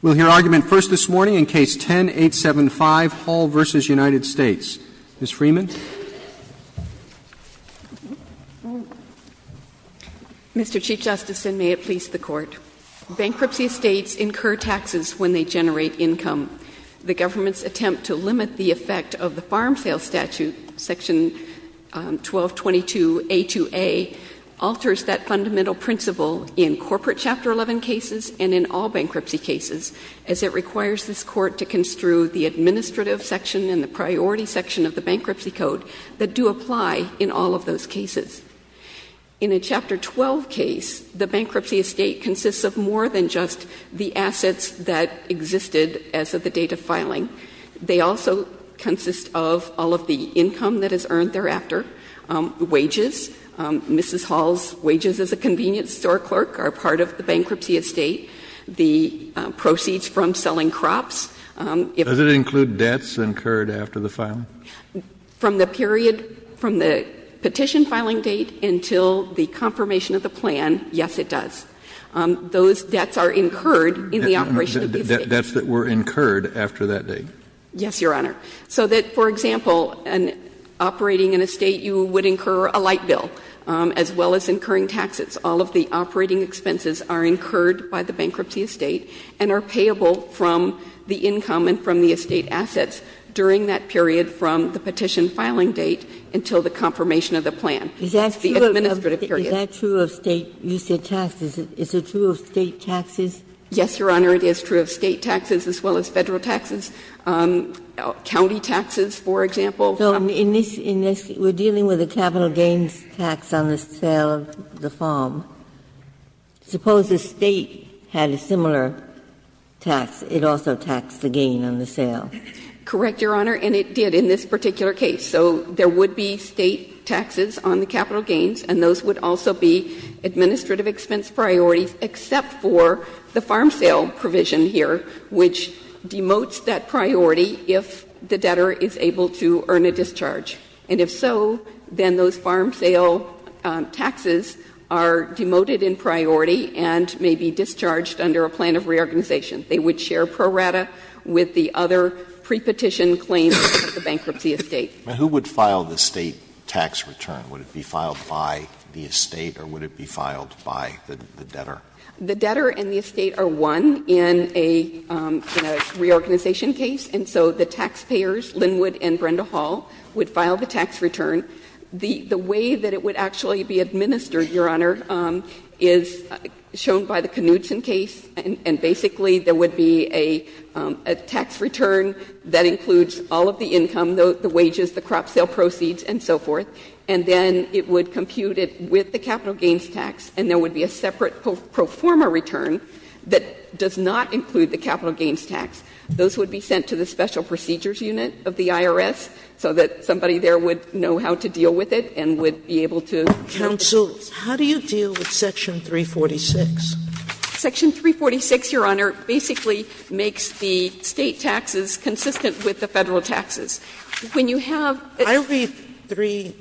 We'll hear argument first this morning in Case 10-875, Hall v. United States. Ms. Freeman. Mr. Chief Justice, and may it please the Court. Bankruptcy states incur taxes when they generate income. The government's attempt to limit the effect of the Farm Sales Statute, Section 1222A2A, alters that fundamental principle in corporate Chapter 11 cases and in all bankruptcy cases as it requires this Court to construe the administrative section and the priority section of the Bankruptcy Code that do apply in all of those cases. In a Chapter 12 case, the bankruptcy estate consists of more than just the assets that existed as of the date of filing. They also consist of all of the income that is earned thereafter, wages. Mrs. Hall's wages as a convenience store clerk are part of the bankruptcy estate. The proceeds from selling crops. Does it include debts incurred after the filing? From the period from the petition filing date until the confirmation of the plan, yes, it does. And it includes the debts that were incurred after that date? Yes, Your Honor. So that, for example, operating an estate, you would incur a light bill, as well as incurring taxes. All of the operating expenses are incurred by the bankruptcy estate and are payable from the income and from the estate assets during that period from the petition filing date until the confirmation of the plan, the administrative period. Is that true of state taxes? Is it true of state taxes? Yes, Your Honor. It is true of state taxes as well as Federal taxes. County taxes, for example. So in this we're dealing with a capital gains tax on the sale of the farm. Suppose the State had a similar tax. It also taxed the gain on the sale. Correct, Your Honor, and it did in this particular case. So there would be State taxes on the capital gains, and those would also be administrative expense priorities except for the farm sale provision here, which demotes that priority if the debtor is able to earn a discharge. And if so, then those farm sale taxes are demoted in priority and may be discharged under a plan of reorganization. They would share pro rata with the other prepetition claims of the bankruptcy estate. Now, who would file the State tax return? Would it be filed by the estate or would it be filed by the debtor? The debtor and the estate are one in a reorganization case, and so the taxpayers, Linwood and Brenda Hall, would file the tax return. The way that it would actually be administered, Your Honor, is shown by the Knudsen case, and basically there would be a tax return that includes all of the income, the wages, the crop sale proceeds and so forth. And then it would compute it with the capital gains tax, and there would be a separate pro forma return that does not include the capital gains tax. Those would be sent to the Special Procedures Unit of the IRS so that somebody there would know how to deal with it and would be able to deal with it. Sotomayor, how do you deal with Section 346? Section 346, Your Honor, basically makes the State taxes consistent with the Federal taxes. When you have the State taxes. Sotomayor, how do you deal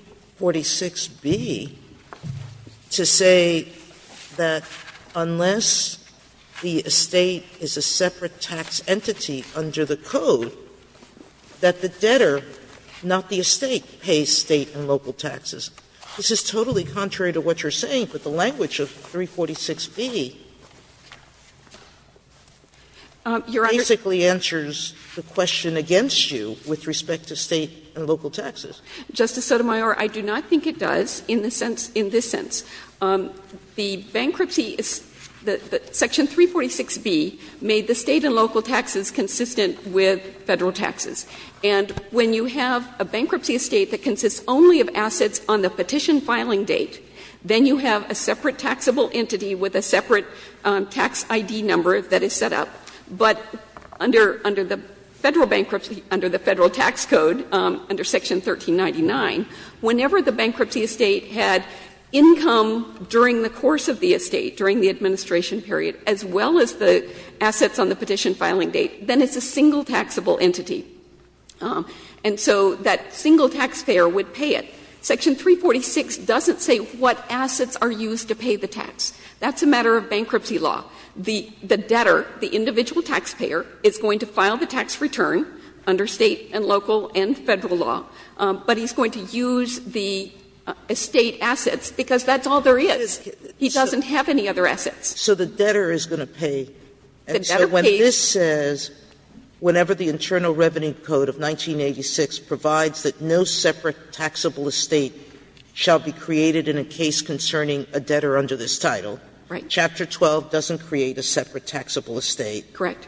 with Section 346b to say that unless the estate is a separate tax entity under the code, that the debtor, not the estate, pays State and local taxes? This is totally contrary to what you are saying, but the language of 346b basically answers the question against you with respect to State and local taxes. Justice Sotomayor, I do not think it does in the sense — in this sense. The bankruptcy — Section 346b made the State and local taxes consistent with Federal taxes. And when you have a bankruptcy estate that consists only of assets on the petition filing date, then you have a separate taxable entity with a separate tax ID number that is set up. But under the Federal bankruptcy, under the Federal tax code, under Section 1399, whenever the bankruptcy estate had income during the course of the estate, during the administration period, as well as the assets on the petition filing date, then it's a single taxable entity. And so that single taxpayer would pay it. Section 346 doesn't say what assets are used to pay the tax. That's a matter of bankruptcy law. The debtor, the individual taxpayer, is going to file the tax return under State and local and Federal law, but he's going to use the estate assets because that's all there is. He doesn't have any other assets. Sotomayor, so the debtor is going to pay. And so when this says, whenever the Internal Revenue Code of 1986 provides that no separate taxable estate shall be created in a case concerning a debtor under this statute, does that mean that the debtor is going to create a separate taxable estate? Correct.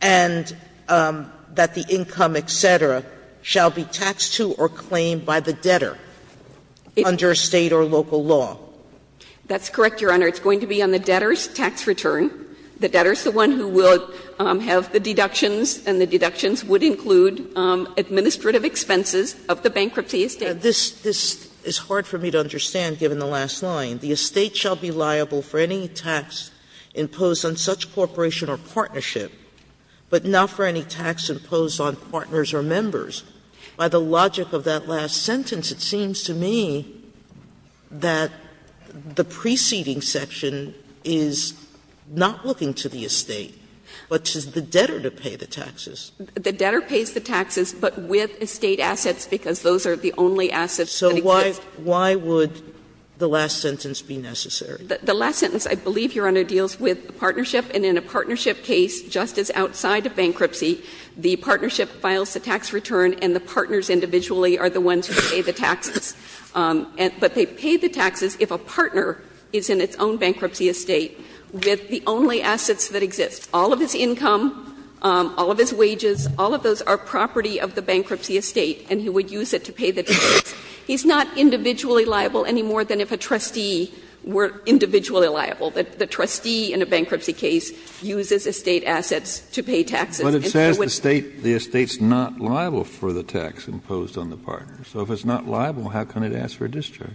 And that the income, et cetera, shall be taxed to or claimed by the debtor under State or local law? That's correct, Your Honor. It's going to be on the debtor's tax return. The debtor is the one who will have the deductions, and the deductions would include administrative expenses of the bankruptcy estate. Sotomayor, this is hard for me to understand, given the last line. The estate shall be liable for any tax imposed on such corporation or partnership, but not for any tax imposed on partners or members. By the logic of that last sentence, it seems to me that the preceding section is not looking to the estate, but to the debtor to pay the taxes. The debtor pays the taxes, but with estate assets, because those are the only assets that exist. So why would the last sentence be necessary? The last sentence, I believe, Your Honor, deals with a partnership, and in a partnership case, just as outside of bankruptcy, the partnership files the tax return and the partners individually are the ones who pay the taxes. But they pay the taxes if a partner is in its own bankruptcy estate with the only assets that exist, all of his income, all of his wages, all of those are property of the bankruptcy estate, and he would use it to pay the taxes. He's not individually liable any more than if a trustee were individually liable. The trustee in a bankruptcy case uses estate assets to pay taxes. And so it's not liable for the tax imposed on the partner. So if it's not liable, how can it ask for a discharge?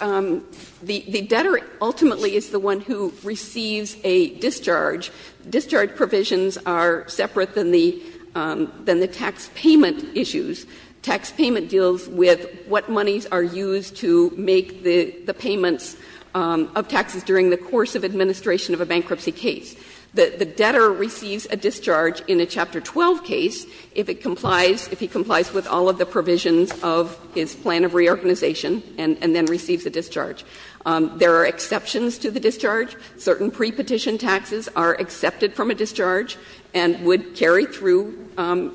The debtor ultimately is the one who receives a discharge. Discharge provisions are separate than the tax payment issues. Tax payment deals with what monies are used to make the payments of taxes during the course of administration of a bankruptcy case. The debtor receives a discharge in a Chapter 12 case if it complies, if he complies with all of the provisions of his plan of reorganization and then receives a discharge. There are exceptions to the discharge. Certain prepetition taxes are accepted from a discharge and would carry through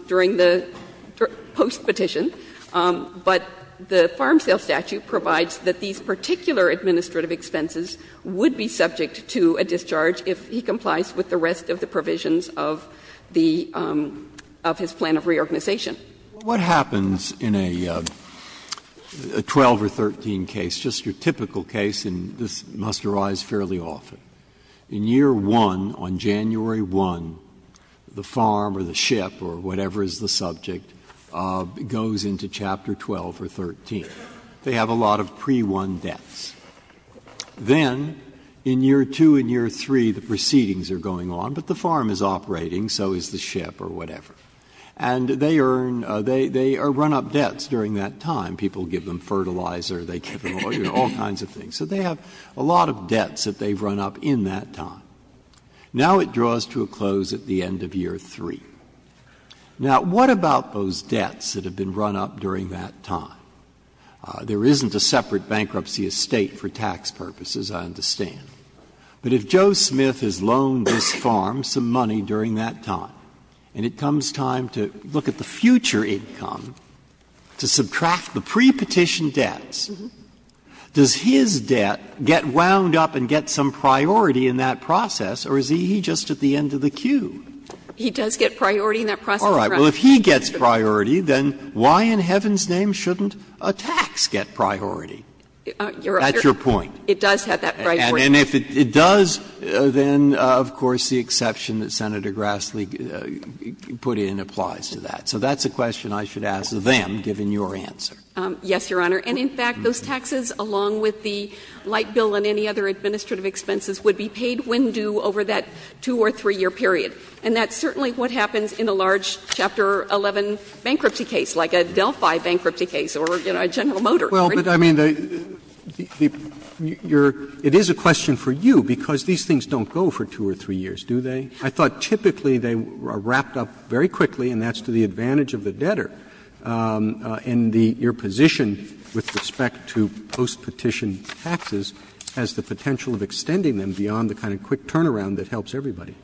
during the postpetition. But the farm sale statute provides that these particular administrative expenses would be subject to a discharge if he complies with the rest of the provisions of the of his plan of reorganization. Breyer. What happens in a 12 or 13 case, just your typical case, and this must arise fairly often, in year 1, on January 1, the farm or the ship or whatever is the subject goes into Chapter 12 or 13. They have a lot of pre-1 debts. Then in year 2 and year 3, the proceedings are going on, but the farm is operating, so is the ship or whatever. And they earn, they run up debts during that time. People give them fertilizer, they give them all kinds of things. So they have a lot of debts that they've run up in that time. Now it draws to a close at the end of year 3. Now, what about those debts that have been run up during that time? There isn't a separate bankruptcy estate for tax purposes, I understand. But if Joe Smith has loaned this farm some money during that time, and it comes time to look at the future income, to subtract the pre-petition debts, does his debt get wound up and get some priority in that process, or is he just at the end of the queue? He does get priority in that process. All right. Well, if he gets priority, then why in heaven's name shouldn't a tax get priority? That's your point. It does have that priority. And if it does, then, of course, the exception that Senator Grassley put in applies to that. So that's a question I should ask them, given your answer. Yes, Your Honor. And, in fact, those taxes, along with the light bill and any other administrative expenses, would be paid when due over that 2- or 3-year period. And that's certainly what happens in a large Chapter 11 bankruptcy case, like a Delphi bankruptcy case or a General Motor. Well, but, I mean, the you're — it is a question for you, because these things don't go for 2 or 3 years, do they? I thought typically they are wrapped up very quickly, and that's to the advantage of the debtor. And the — your position with respect to post-petition taxes has the potential of extending them beyond the kind of quick turnaround that helps everybody.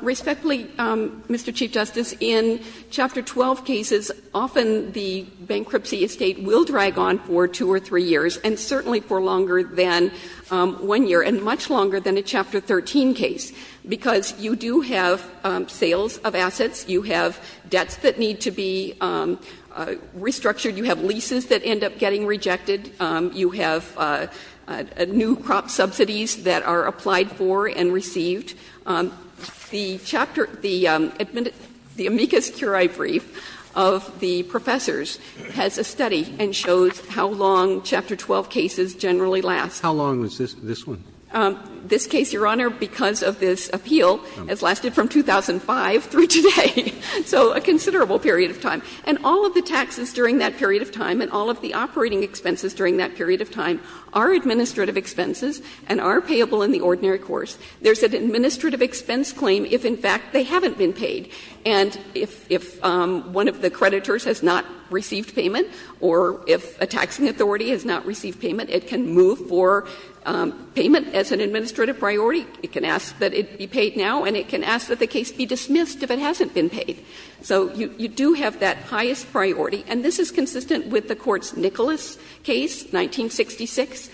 Respectfully, Mr. Chief Justice, in Chapter 12 cases, often the bankruptcy estate will drag on for 2 or 3 years, and certainly for longer than 1 year, and much longer than a Chapter 13 case, because you do have sales of assets, you have debts that need to be restructured, you have leases that end up getting rejected, you have new crop subsidies that are applied for and received. The chapter — the amicus curiae brief of the professors has a study that has been published and shows how long Chapter 12 cases generally last. How long was this one? This case, Your Honor, because of this appeal, has lasted from 2005 through today. So a considerable period of time. And all of the taxes during that period of time and all of the operating expenses during that period of time are administrative expenses and are payable in the ordinary course. There's an administrative expense claim if, in fact, they haven't been paid. And if one of the creditors has not received payment or if a taxing authority has not received payment, it can move for payment as an administrative priority. It can ask that it be paid now, and it can ask that the case be dismissed if it hasn't been paid. So you do have that highest priority. And this is consistent with the Court's Nicholas case, 1966,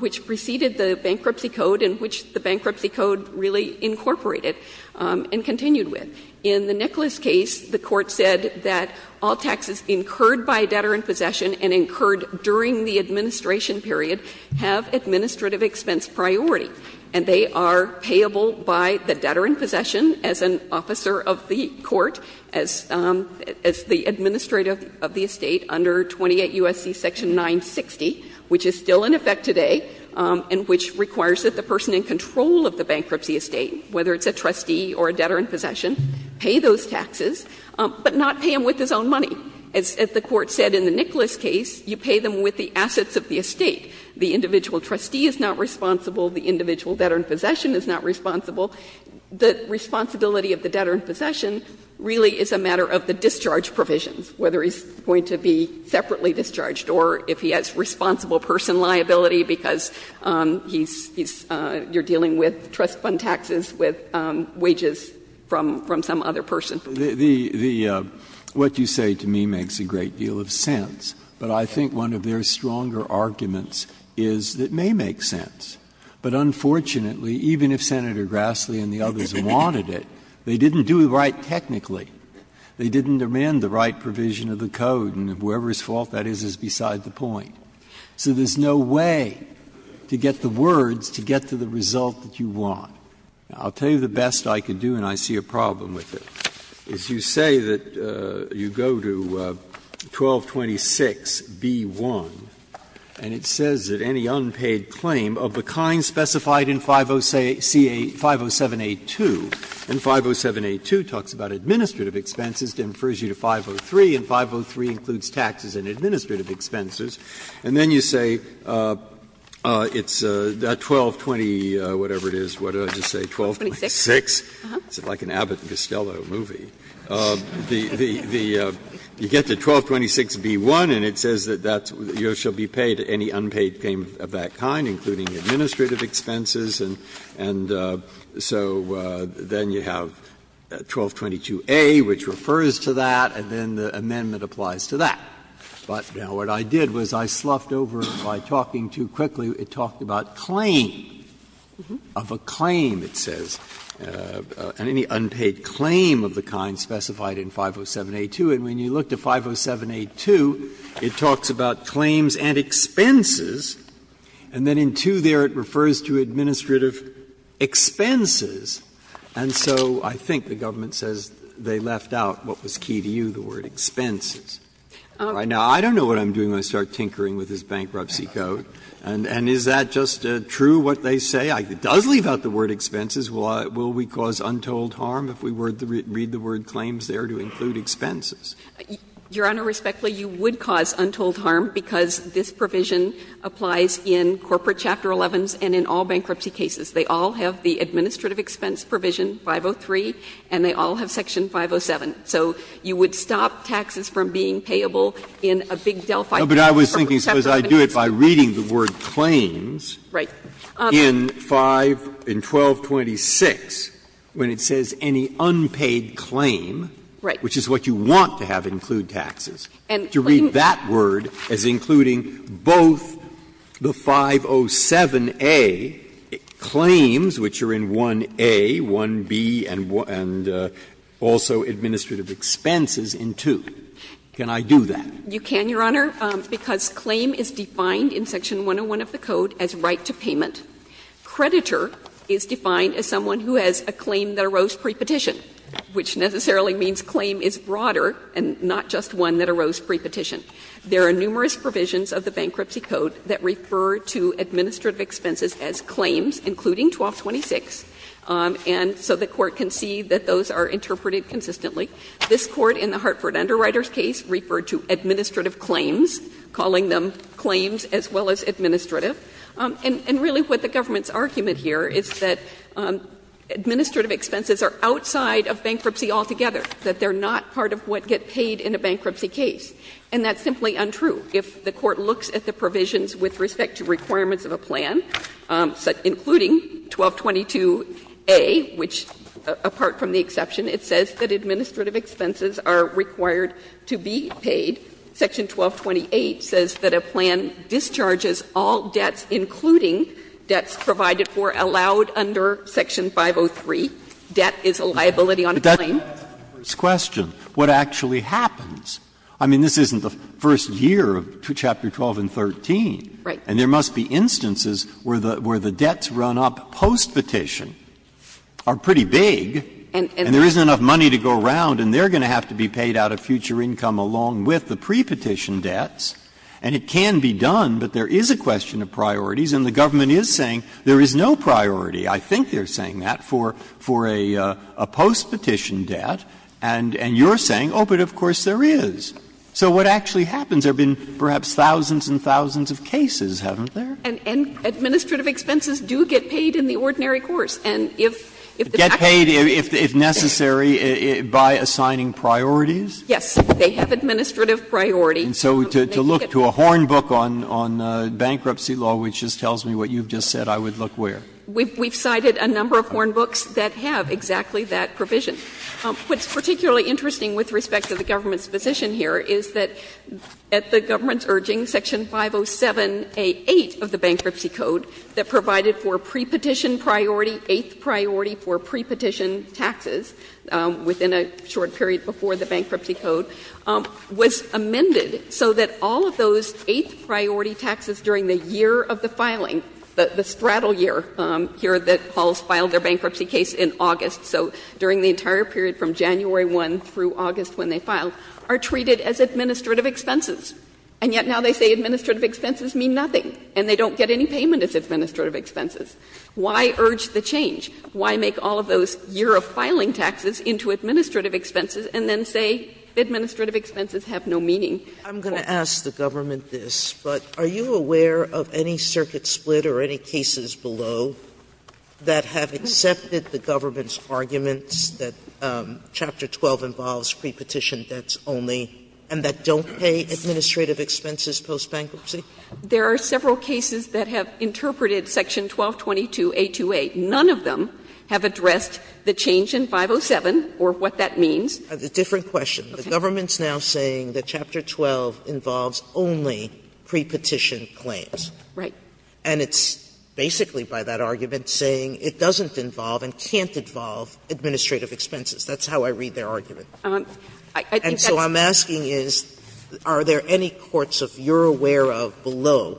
which preceded the bankruptcy code and which the bankruptcy code really incorporated and continued with. In the Nicholas case, the Court said that all taxes incurred by debtor in possession and incurred during the administration period have administrative expense priority. And they are payable by the debtor in possession as an officer of the court, as the administrator of the estate under 28 U.S.C. Section 960, which is still in effect today, and which requires that the person in control of the bankruptcy estate, whether it's a trustee or a debtor in possession, pay those taxes, but not pay them with his own money. As the Court said in the Nicholas case, you pay them with the assets of the estate. The individual trustee is not responsible. The individual debtor in possession is not responsible. The responsibility of the debtor in possession really is a matter of the discharge provisions, whether he's going to be separately discharged or if he has responsible person liability because he's you're dealing with trust fund taxes with wages from some other person. Breyer. The what you say to me makes a great deal of sense, but I think one of their stronger arguments is that it may make sense. But unfortunately, even if Senator Grassley and the others wanted it, they didn't do it right technically. They didn't amend the right provision of the code, and whoever's fault that is is beside the point. So there's no way to get the words to get to the result that you want. I'll tell you the best I can do, and I see a problem with it. If you say that you go to 1226b-1, and it says that any unpaid claim of the kind specified in 507a-2, and 507a-2 talks about administrative expenses, it infers you to 503, and 503 includes taxes and administrative expenses, and then you say it's 1220, whatever it is, what did I just say, 1226? It's like an Abbott and Costello movie. The you get to 1226b-1, and it says that you shall be paid any unpaid claim of that kind, including administrative expenses, and so then you have 1222a, which refers to that, and then the amendment applies to that. But now what I did was I sloughed over it by talking too quickly. It talked about claim, of a claim, it says, and any unpaid claim of the kind specified in 507a-2, and when you look to 507a-2, it talks about claims and expenses, and then in 2 there it refers to administrative expenses. And so I think the government says they left out what was key to you, the word expenses. Now, I don't know what I'm doing when I start tinkering with this bankruptcy code, and is that just true what they say? It does leave out the word expenses. Will we cause untold harm if we read the word claims there to include expenses? Your Honor, respectfully, you would cause untold harm because this provision applies in corporate Chapter 11s and in all bankruptcy cases. They all have the administrative expense provision, 503, and they all have section 507. So you would stop taxes from being payable in a big Delphi. Breyer, but I was thinking, suppose I do it by reading the word claims in 5, in 1226 when it says any unpaid claim, which is what you want to have include taxes, to read that word as including both the 507a claims, which are in 1a, 1b, and also administrative expenses in 2. Can I do that? You can, Your Honor, because claim is defined in section 101 of the code as right to payment. Creditor is defined as someone who has a claim that arose prepetition, which necessarily means claim is broader and not just one that arose prepetition. There are numerous provisions of the Bankruptcy Code that refer to administrative expenses as claims, including 1226, and so the Court can see that those are interpreted consistently. This Court in the Hartford Underwriters case referred to administrative claims, calling them claims as well as administrative. And really what the government's argument here is that administrative expenses are outside of bankruptcy altogether, that they're not part of what get paid in a bankruptcy case, and that's simply untrue. If the Court looks at the provisions with respect to requirements of a plan, including 1222a, which apart from the exception, it says that administrative expenses are required to be paid. Section 1228 says that a plan discharges all debts, including debts provided for allowed under section 503, debt is a liability on a claim. Breyer's question, what actually happens? I mean, this isn't the first year of Chapter 12 and 13. Right. And there must be instances where the debts run up postpetition are pretty big. And there isn't enough money to go around, and they're going to have to be paid out of future income along with the prepetition debts. And it can be done, but there is a question of priorities, and the government is saying there is no priority. I think they're saying that for a postpetition debt, and you're saying, oh, but of course there is. So what actually happens? There have been perhaps thousands and thousands of cases, haven't there? And administrative expenses do get paid in the ordinary course. And if the fact is that the government is not paying the debt, it's not going to be paid. Get paid if necessary by assigning priorities? Yes. They have administrative priorities. And so to look to a horn book on bankruptcy law, which just tells me what you've just said, I would look where? We've cited a number of horn books that have exactly that provision. What's particularly interesting with respect to the government's position here is that at the government's urging, Section 507A8 of the Bankruptcy Code that provided for prepetition priority, eighth priority for prepetition taxes within a short period before the Bankruptcy Code, was amended so that all of those eighth priority taxes during the year of the filing, the straddle year here that halls filed their bankruptcy case in August, so during the entire period from January 1 through August when they filed, are treated as administrative expenses. And yet now they say administrative expenses mean nothing, and they don't get any payment as administrative expenses. Why urge the change? Why make all of those year of filing taxes into administrative expenses and then say administrative expenses have no meaning? Sotomayor, I'm going to ask the government this, but are you aware of any circuit split or any cases below that have accepted the government's arguments that Chapter 12 involves prepetition debts only and that don't pay administrative expenses post-bankruptcy? There are several cases that have interpreted Section 1222A28. None of them have addressed the change in 507 or what that means. Sotomayor, the government's now saying that Chapter 12 involves only prepetition claims. Right. And it's basically by that argument saying it doesn't involve and can't involve administrative expenses. That's how I read their argument. And so I'm asking is, are there any courts, if you're aware of, below,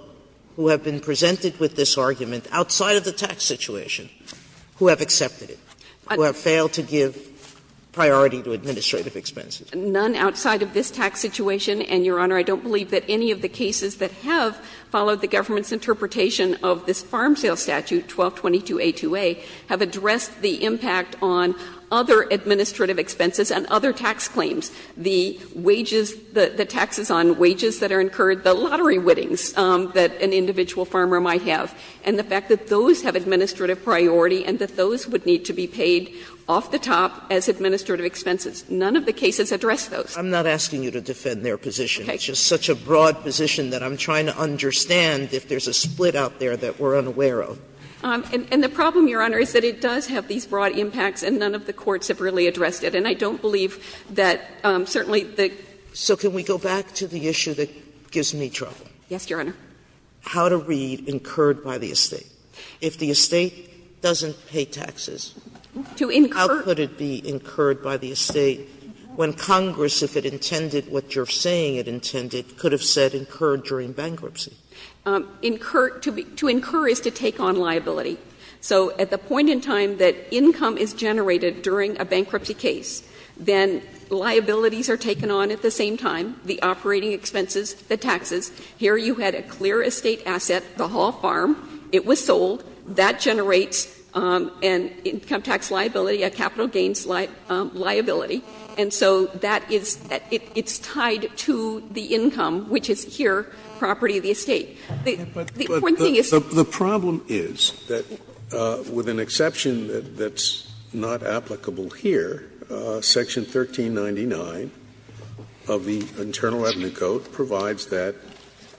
who have been presented with this argument outside of the tax situation who have accepted it, who have failed to give priority to administrative expenses? None outside of this tax situation, and, Your Honor, I don't believe that any of the cases that have followed the government's interpretation of this farm sale statute, 1222A2A, have addressed the impact on other administrative expenses and other tax claims, the wages, the taxes on wages that are incurred, the lottery winnings that an individual farmer might have, and the fact that those have administrative priority and that those would need to be paid off the top as administrative expenses. None of the cases address those. Sotomayor, I'm not asking you to defend their position. It's just such a broad position that I'm trying to understand if there's a split out there that we're unaware of. And the problem, Your Honor, is that it does have these broad impacts and none of the courts have really addressed it. And I don't believe that certainly the So can we go back to the issue that gives me trouble? Yes, Your Honor. Sotomayor, how to read incurred by the estate? If the estate doesn't pay taxes, how could it be incurred by the estate when Congress, if it intended what you're saying it intended, could have said incurred during bankruptcy? To incur is to take on liability. So at the point in time that income is generated during a bankruptcy case, then liabilities are taken on at the same time, the operating expenses, the taxes. Here you had a clear estate asset, the Hall Farm. It was sold. That generates an income tax liability, a capital gains liability. And so that is that it's tied to the income, which is here property of the estate. The point being is that the problem is that with an exception that's not applicable here, Section 1399 of the Internal Avenue Code provides that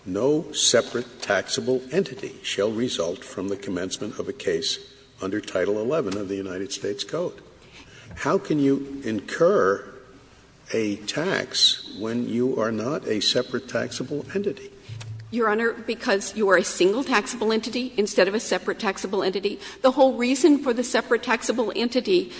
no separate taxable entity shall result from the commencement of a case under Title XI of the United States Code. How can you incur a tax when you are not a separate taxable entity? Your Honor, because you are a single taxable entity instead of a separate taxable entity. The whole reason for the separate taxable entity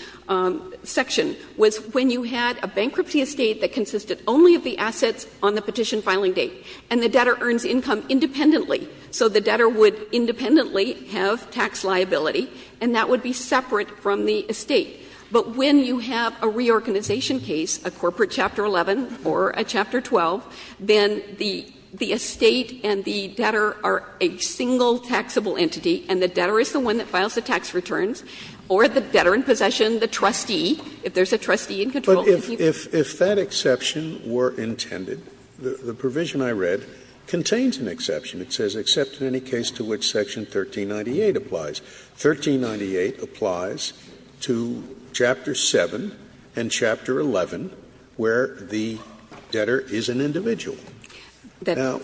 section was when you had a bankruptcy estate that consisted only of the assets on the petition filing date, and the debtor earns income independently. So the debtor would independently have tax liability, and that would be separate from the estate. But when you have a reorganization case, a corporate Chapter 11 or a Chapter 12, then the estate and the debtor are a single taxable entity, and the debtor is the one that files the tax returns, or the debtor in possession, the trustee, if there is a trustee in control. Scalia, if that exception were intended, the provision I read contains an exception. It says, except in any case to which Section 1398 applies. 1398 applies to Chapter 7 and Chapter 11, where the debtor is an individual. Now,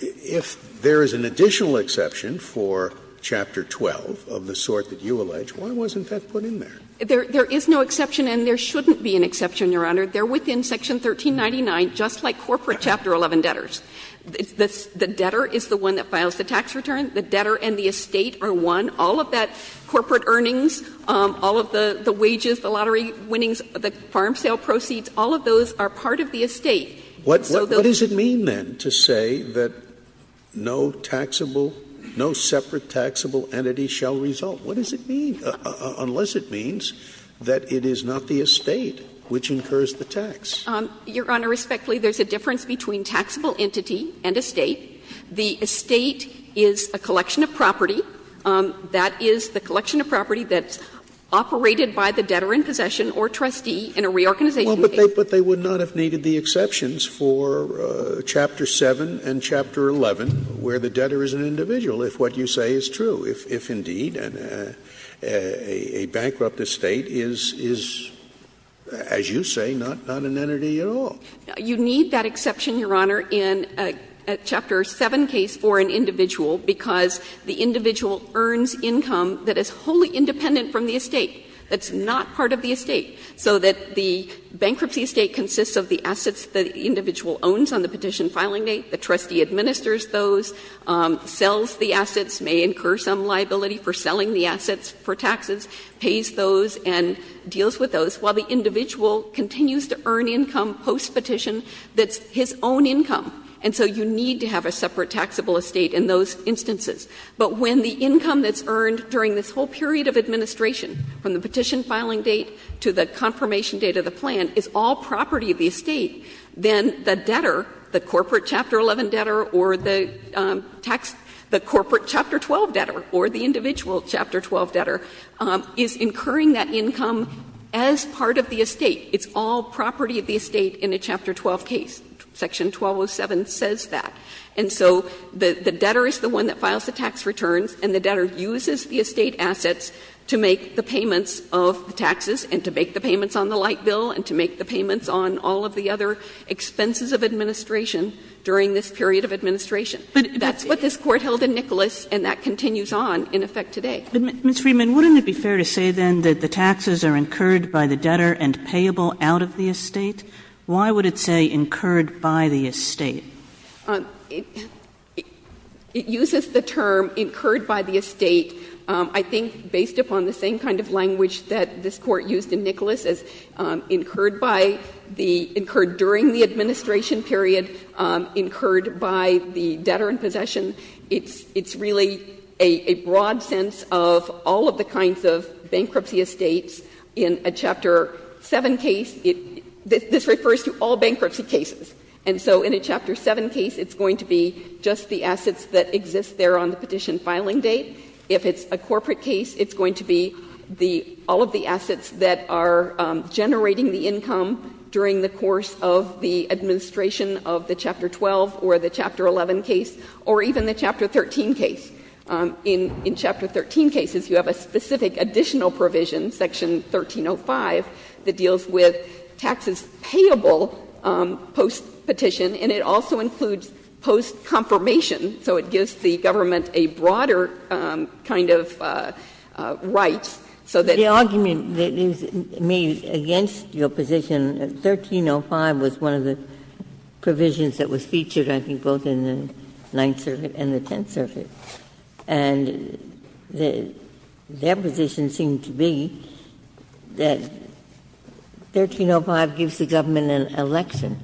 if there is an additional exception for Chapter 12 of the sort that you allege, why wasn't that put in there? There is no exception, and there shouldn't be an exception, Your Honor. They are within Section 1399, just like corporate Chapter 11 debtors. The debtor is the one that files the tax return. The debtor and the estate are one. All of that corporate earnings, all of the wages, the lottery winnings, the farm sale proceeds, all of those are part of the estate. Scalia, what does it mean, then, to say that no taxable, no separate taxable entity shall result? What does it mean, unless it means that it is not the estate which incurs the tax? Your Honor, respectfully, there is a difference between taxable entity and estate. The estate is a collection of property. That is the collection of property that's operated by the debtor in possession or trustee in a reorganization case. Scalia, but they would not have needed the exceptions for Chapter 7 and Chapter 11, where the debtor is an individual, if what you say is true, if indeed a bankrupt estate is, as you say, not an entity at all. You need that exception, Your Honor, in Chapter 7 case for an individual, because the individual earns income that is wholly independent from the estate, that's not part of the estate, so that the bankruptcy estate consists of the assets the individual owns on the petition filing date, the trustee administers those, sells the assets, may incur some liability for selling the assets for taxes, pays those and deals with those, while the individual continues to earn income post-petition that's his own income. And so you need to have a separate taxable estate in those instances. But when the income that's earned during this whole period of administration from the petition filing date to the confirmation date of the plan is all property of the estate, then the debtor, the corporate Chapter 11 debtor or the corporate Chapter 12 debtor or the individual Chapter 12 debtor, is incurring that income as part of the estate. It's all property of the estate in a Chapter 12 case. Section 1207 says that. And so the debtor is the one that files the tax returns and the debtor uses the estate assets to make the payments of taxes and to make the payments on the light bill and to make the payments on all of the other expenses of administration during this period of administration. But that's what this Court held in Nicholas, and that continues on in effect today. But, Ms. Friedman, wouldn't it be fair to say, then, that the taxes are incurred by the debtor and payable out of the estate? Why would it say incurred by the estate? It uses the term incurred by the estate. I think based upon the same kind of language that this Court used in Nicholas as incurred by the — incurred during the administration period, incurred by the debtor in possession, it's really a broad sense of all of the kinds of bankruptcy estates in a Chapter 7 case. This refers to all bankruptcy cases. And so in a Chapter 7 case, it's going to be just the assets that exist there on the corporate case. It's going to be the — all of the assets that are generating the income during the course of the administration of the Chapter 12 or the Chapter 11 case, or even the Chapter 13 case. In Chapter 13 cases, you have a specific additional provision, Section 1305, that deals with taxes payable post-petition, and it also includes post-confirmation. So it gives the government a broader kind of right so that the — GINSBURG The argument that is made against your position, 1305 was one of the provisions that was featured, I think, both in the Ninth Circuit and the Tenth Circuit. And their position seemed to be that 1305 gives the government an election.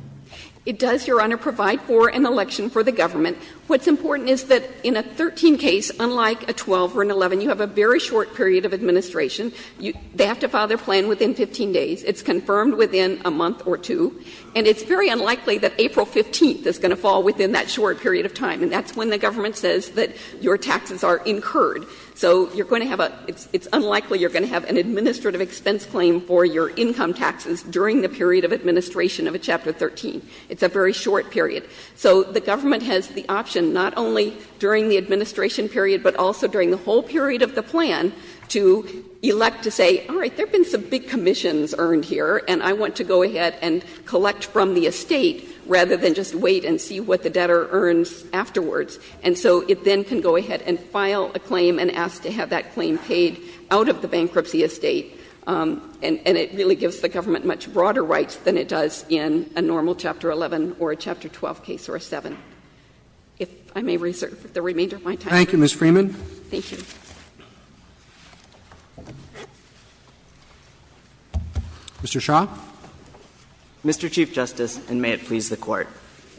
It does, Your Honor, provide for an election for the government. What's important is that in a 13 case, unlike a 12 or an 11, you have a very short period of administration. They have to file their plan within 15 days. It's confirmed within a month or two. And it's very unlikely that April 15th is going to fall within that short period of time, and that's when the government says that your taxes are incurred. So you're going to have a — it's unlikely you're going to have an administrative expense claim for your income taxes during the period of administration of a Chapter 13. It's a very short period. So the government has the option, not only during the administration period, but also during the whole period of the plan, to elect to say, all right, there have been some big commissions earned here, and I want to go ahead and collect from the estate, rather than just wait and see what the debtor earns afterwards. And so it then can go ahead and file a claim and ask to have that claim paid out of the bankruptcy estate. And it really gives the government much broader rights than it does in a normal Chapter 11 or a Chapter 12 case or a 7. If I may reserve the remainder of my time. Roberts. Thank you, Ms. Freeman. Thank you. Mr. Shah. Mr. Chief Justice, and may it please the Court.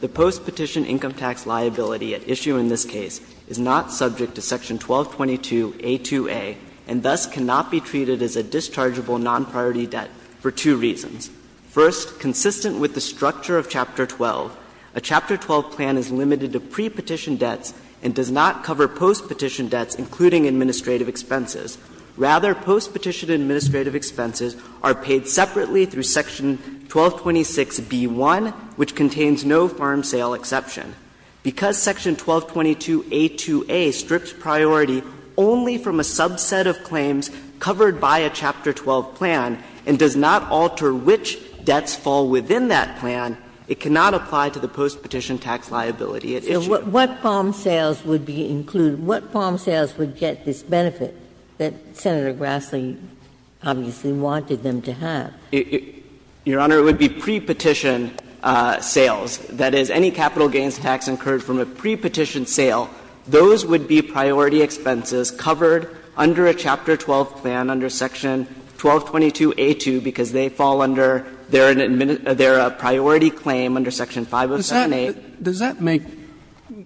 The postpetition income tax liability at issue in this case is not subject to Section 1222a2a, and thus cannot be treated as a dischargeable non-priority debt for two reasons. First, consistent with the structure of Chapter 12, a Chapter 12 plan is limited to prepetition debts and does not cover postpetition debts, including administrative expenses. Rather, postpetition administrative expenses are paid separately through Section 1226b1, which contains no farm sale exception. Because Section 1222a2a strips priority only from a subset of claims covered by a Chapter 12 plan and does not alter which debts fall within that plan, it cannot apply to the postpetition tax liability at issue. What farm sales would be included? What farm sales would get this benefit that Senator Grassley obviously wanted them to have? Your Honor, it would be prepetition sales. That is, any capital gains tax incurred from a prepetition sale, those would be priority expenses covered under a Chapter 12 plan, under Section 1222a2, because they fall under their priority claim under Section 507a. Roberts, Does that make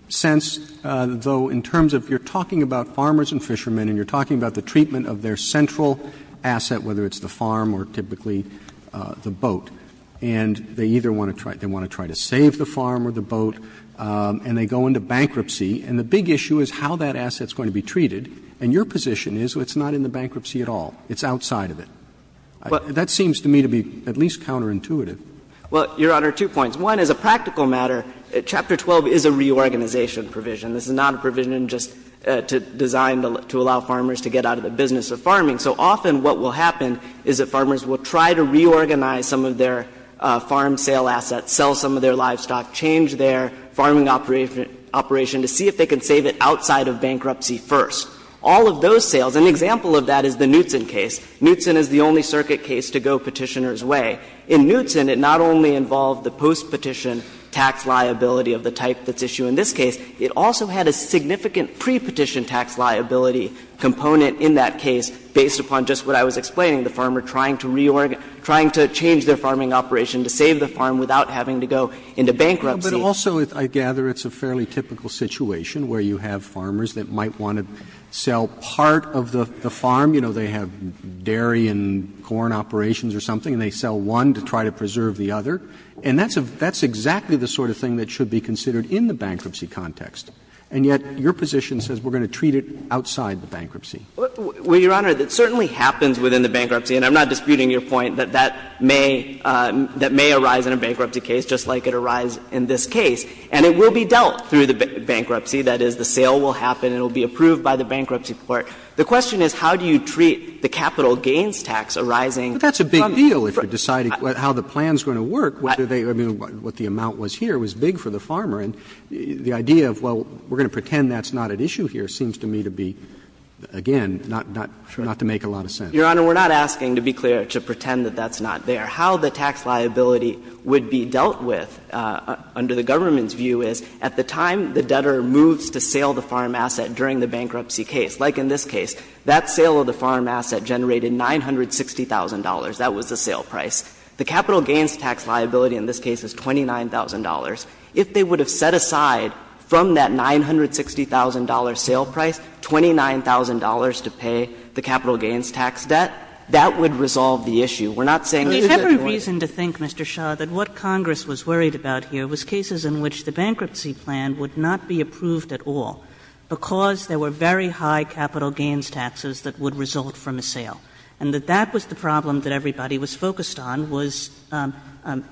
sense, though, in terms of you're talking about farmers and fishermen and you're talking about the treatment of their central asset, whether it's the farm or typically the boat, and they either want to try to save the farm or the boat, and they go into bankruptcy. And the big issue is how that asset is going to be treated, and your position is it's not in the bankruptcy at all. It's outside of it. That seems to me to be at least counterintuitive. Well, Your Honor, two points. One, as a practical matter, Chapter 12 is a reorganization provision. This is not a provision just designed to allow farmers to get out of the business of farming. So often what will happen is that farmers will try to reorganize some of their farm sale assets, sell some of their livestock, change their farming operation to see if they can save it outside of bankruptcy first. All of those sales, an example of that is the Knutson case. Knutson is the only circuit case to go Petitioner's way. In Knutson, it not only involved the postpetition tax liability of the type that's issued in this case, it also had a significant prepetition tax liability component in that case based upon just what I was explaining, the farmer trying to reorganize their farm, trying to change their farming operation to save the farm without having to go into bankruptcy. But also, I gather, it's a fairly typical situation where you have farmers that might want to sell part of the farm. You know, they have dairy and corn operations or something, and they sell one to try to preserve the other. And that's exactly the sort of thing that should be considered in the bankruptcy context. And yet your position says we're going to treat it outside the bankruptcy. Well, Your Honor, it certainly happens within the bankruptcy, and I'm not disputing your point that that may arise in a bankruptcy case just like it arise in this case. And it will be dealt through the bankruptcy. That is, the sale will happen and it will be approved by the bankruptcy court. The question is, how do you treat the capital gains tax arising from the farm? But that's a big deal, if you're deciding how the plan's going to work, whether they or what the amount was here was big for the farmer. And the idea of, well, we're going to pretend that's not at issue here seems to me to be, again, not to make a lot of sense. Your Honor, we're not asking, to be clear, to pretend that that's not there. How the tax liability would be dealt with under the government's view is, at the time the debtor moves to sale the farm asset during the bankruptcy case, like in this case, that sale of the farm asset generated $960,000. That was the sale price. The capital gains tax liability in this case is $29,000. If they would have set aside from that $960,000 sale price $29,000 to pay the capital gains tax debt, that would resolve the issue. We're not saying that it's a joint. Kagan. Kagan. And we have a reason to think, Mr. Shah, that what Congress was worried about here was cases in which the bankruptcy plan would not be approved at all, because there were very high capital gains taxes that would result from a sale, and that that was the problem that everybody was focused on, was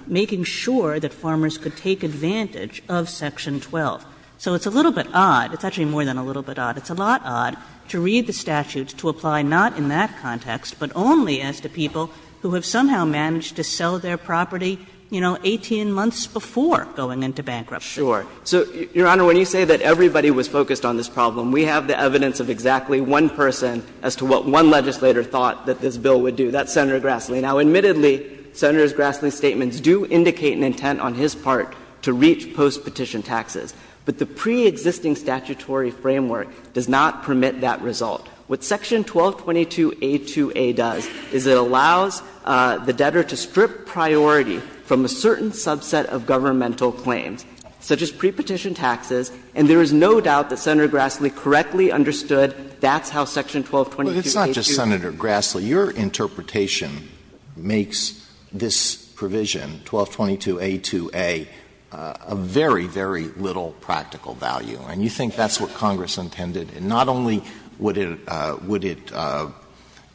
making sure that farmers could take advantage of section 12. So it's a little bit odd. It's actually more than a little bit odd. It's a lot odd to read the statutes to apply not in that context, but only as to people who have somehow managed to sell their property, you know, 18 months before going into bankruptcy. Shah. So, Your Honor, when you say that everybody was focused on this problem, we have the evidence of exactly one person as to what one legislator thought that this bill would do. That's Senator Grassley. Now, admittedly, Senator Grassley's statements do indicate an intent on his part to reach post-petition taxes. But the pre-existing statutory framework does not permit that result. What section 1222a2a does is it allows the debtor to strip priority from a certain subset of governmental claims, such as pre-petition taxes, and there is no doubt that Senator Grassley correctly understood that's how section 1222a2a. Alito, it's not just Senator Grassley. So your interpretation makes this provision, 1222a2a, a very, very little practical value, and you think that's what Congress intended. And not only would it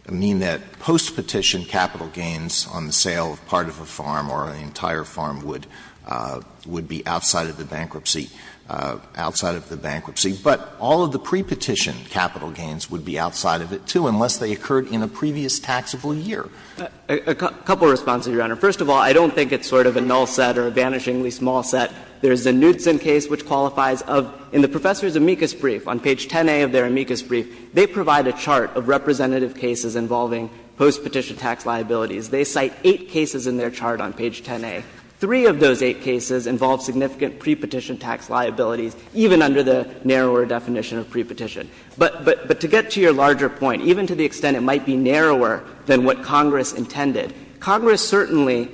mean that post-petition capital gains on the sale of part of a farm or an entire farm would be outside of the bankruptcy, outside of the bankruptcy, but all of the pre-petition capital gains would be outside of it, too, unless they occurred in a previous taxable year. Gannon, a couple of responses, Your Honor. First of all, I don't think it's sort of a null set or a vanishingly small set. There's the Knudsen case which qualifies of, in the Professor's amicus brief, on page 10a of their amicus brief, they provide a chart of representative cases involving post-petition tax liabilities. They cite eight cases in their chart on page 10a. Three of those eight cases involve significant pre-petition tax liabilities, even under the narrower definition of pre-petition. But to get to your larger point, even to the extent it might be narrower than what Congress intended, Congress certainly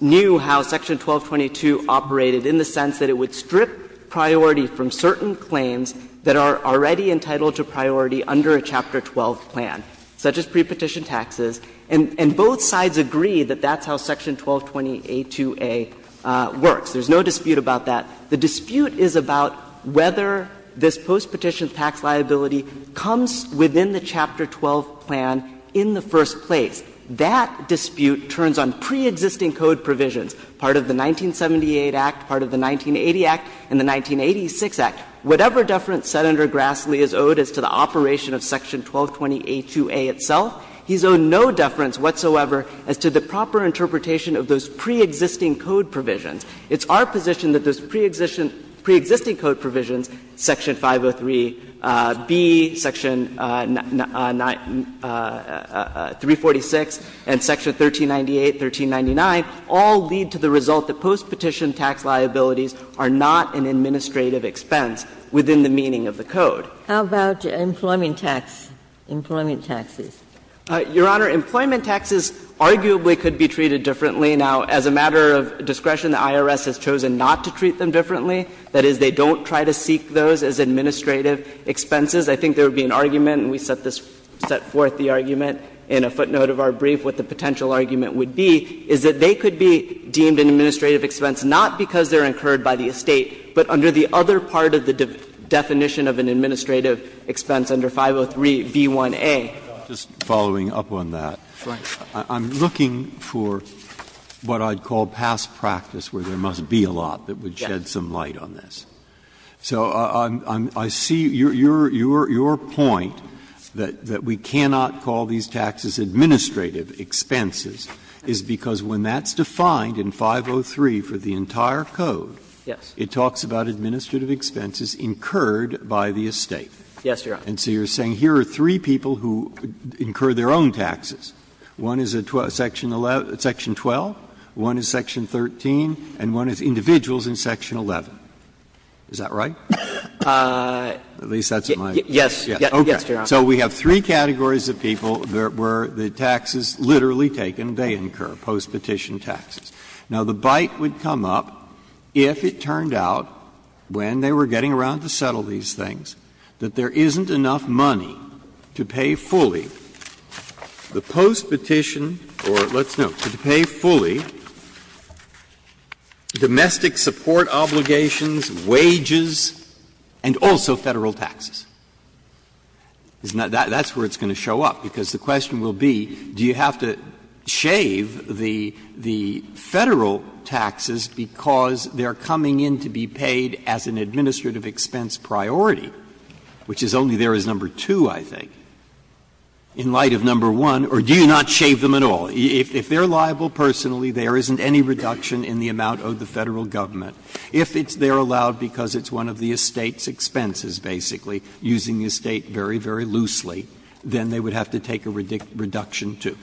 knew how Section 1222 operated in the sense that it would strip priority from certain claims that are already entitled to priority under a Chapter 12 plan, such as pre-petition taxes, and both sides agree that that's how Section 1220a2a works. There's no dispute about that. The dispute is about whether this post-petition tax liability comes within the Chapter 12 plan in the first place. That dispute turns on pre-existing code provisions, part of the 1978 Act, part of the 1980 Act, and the 1986 Act. Whatever deference Senator Grassley is owed as to the operation of Section 1220a2a itself, he's owed no deference whatsoever as to the proper interpretation of those pre-existing code provisions. It's our position that those pre-existing code provisions, Section 503b, Section 346, and Section 1398, 1399, all lead to the result that post-petition tax liabilities are not an administrative expense within the meaning of the code. How about employment tax, employment taxes? Your Honor, employment taxes arguably could be treated differently. Now, as a matter of discretion, the IRS has chosen not to treat them differently. That is, they don't try to seek those as administrative expenses. I think there would be an argument, and we set this – set forth the argument in a footnote of our brief what the potential argument would be, is that they could be deemed an administrative expense not because they're incurred by the estate, but under the other part of the definition of an administrative expense under 503b1a. Just following up on that. Right. Breyer. I'm looking for what I'd call past practice where there must be a lot that would shed some light on this. So I'm – I see your point that we cannot call these taxes administrative expenses is because when that's defined in 503 for the entire code, it talks about administrative expenses incurred by the estate. Yes, Your Honor. And so you're saying here are three people who incur their own taxes. One is a section 11 – section 12, one is section 13, and one is individuals in section 11. Is that right? At least that's my guess. Yes, Your Honor. Okay. So we have three categories of people where the taxes literally taken, they incur postpetition taxes. Now, the bite would come up if it turned out when they were getting around to settle these things, that there isn't enough money to pay fully the postpetition or, let's note, to pay fully domestic support obligations, wages, and also Federal taxes. Isn't that – that's where it's going to show up, because the question will be, do you have to shave the Federal taxes because they're coming in to be paid as an administrative expense priority, which is only there as number two, I think, in light of number one? Or do you not shave them at all? If they're liable personally, there isn't any reduction in the amount owed the Federal government. If it's there allowed because it's one of the estate's expenses, basically, using the estate very, very loosely, then they would have to take a reduction too.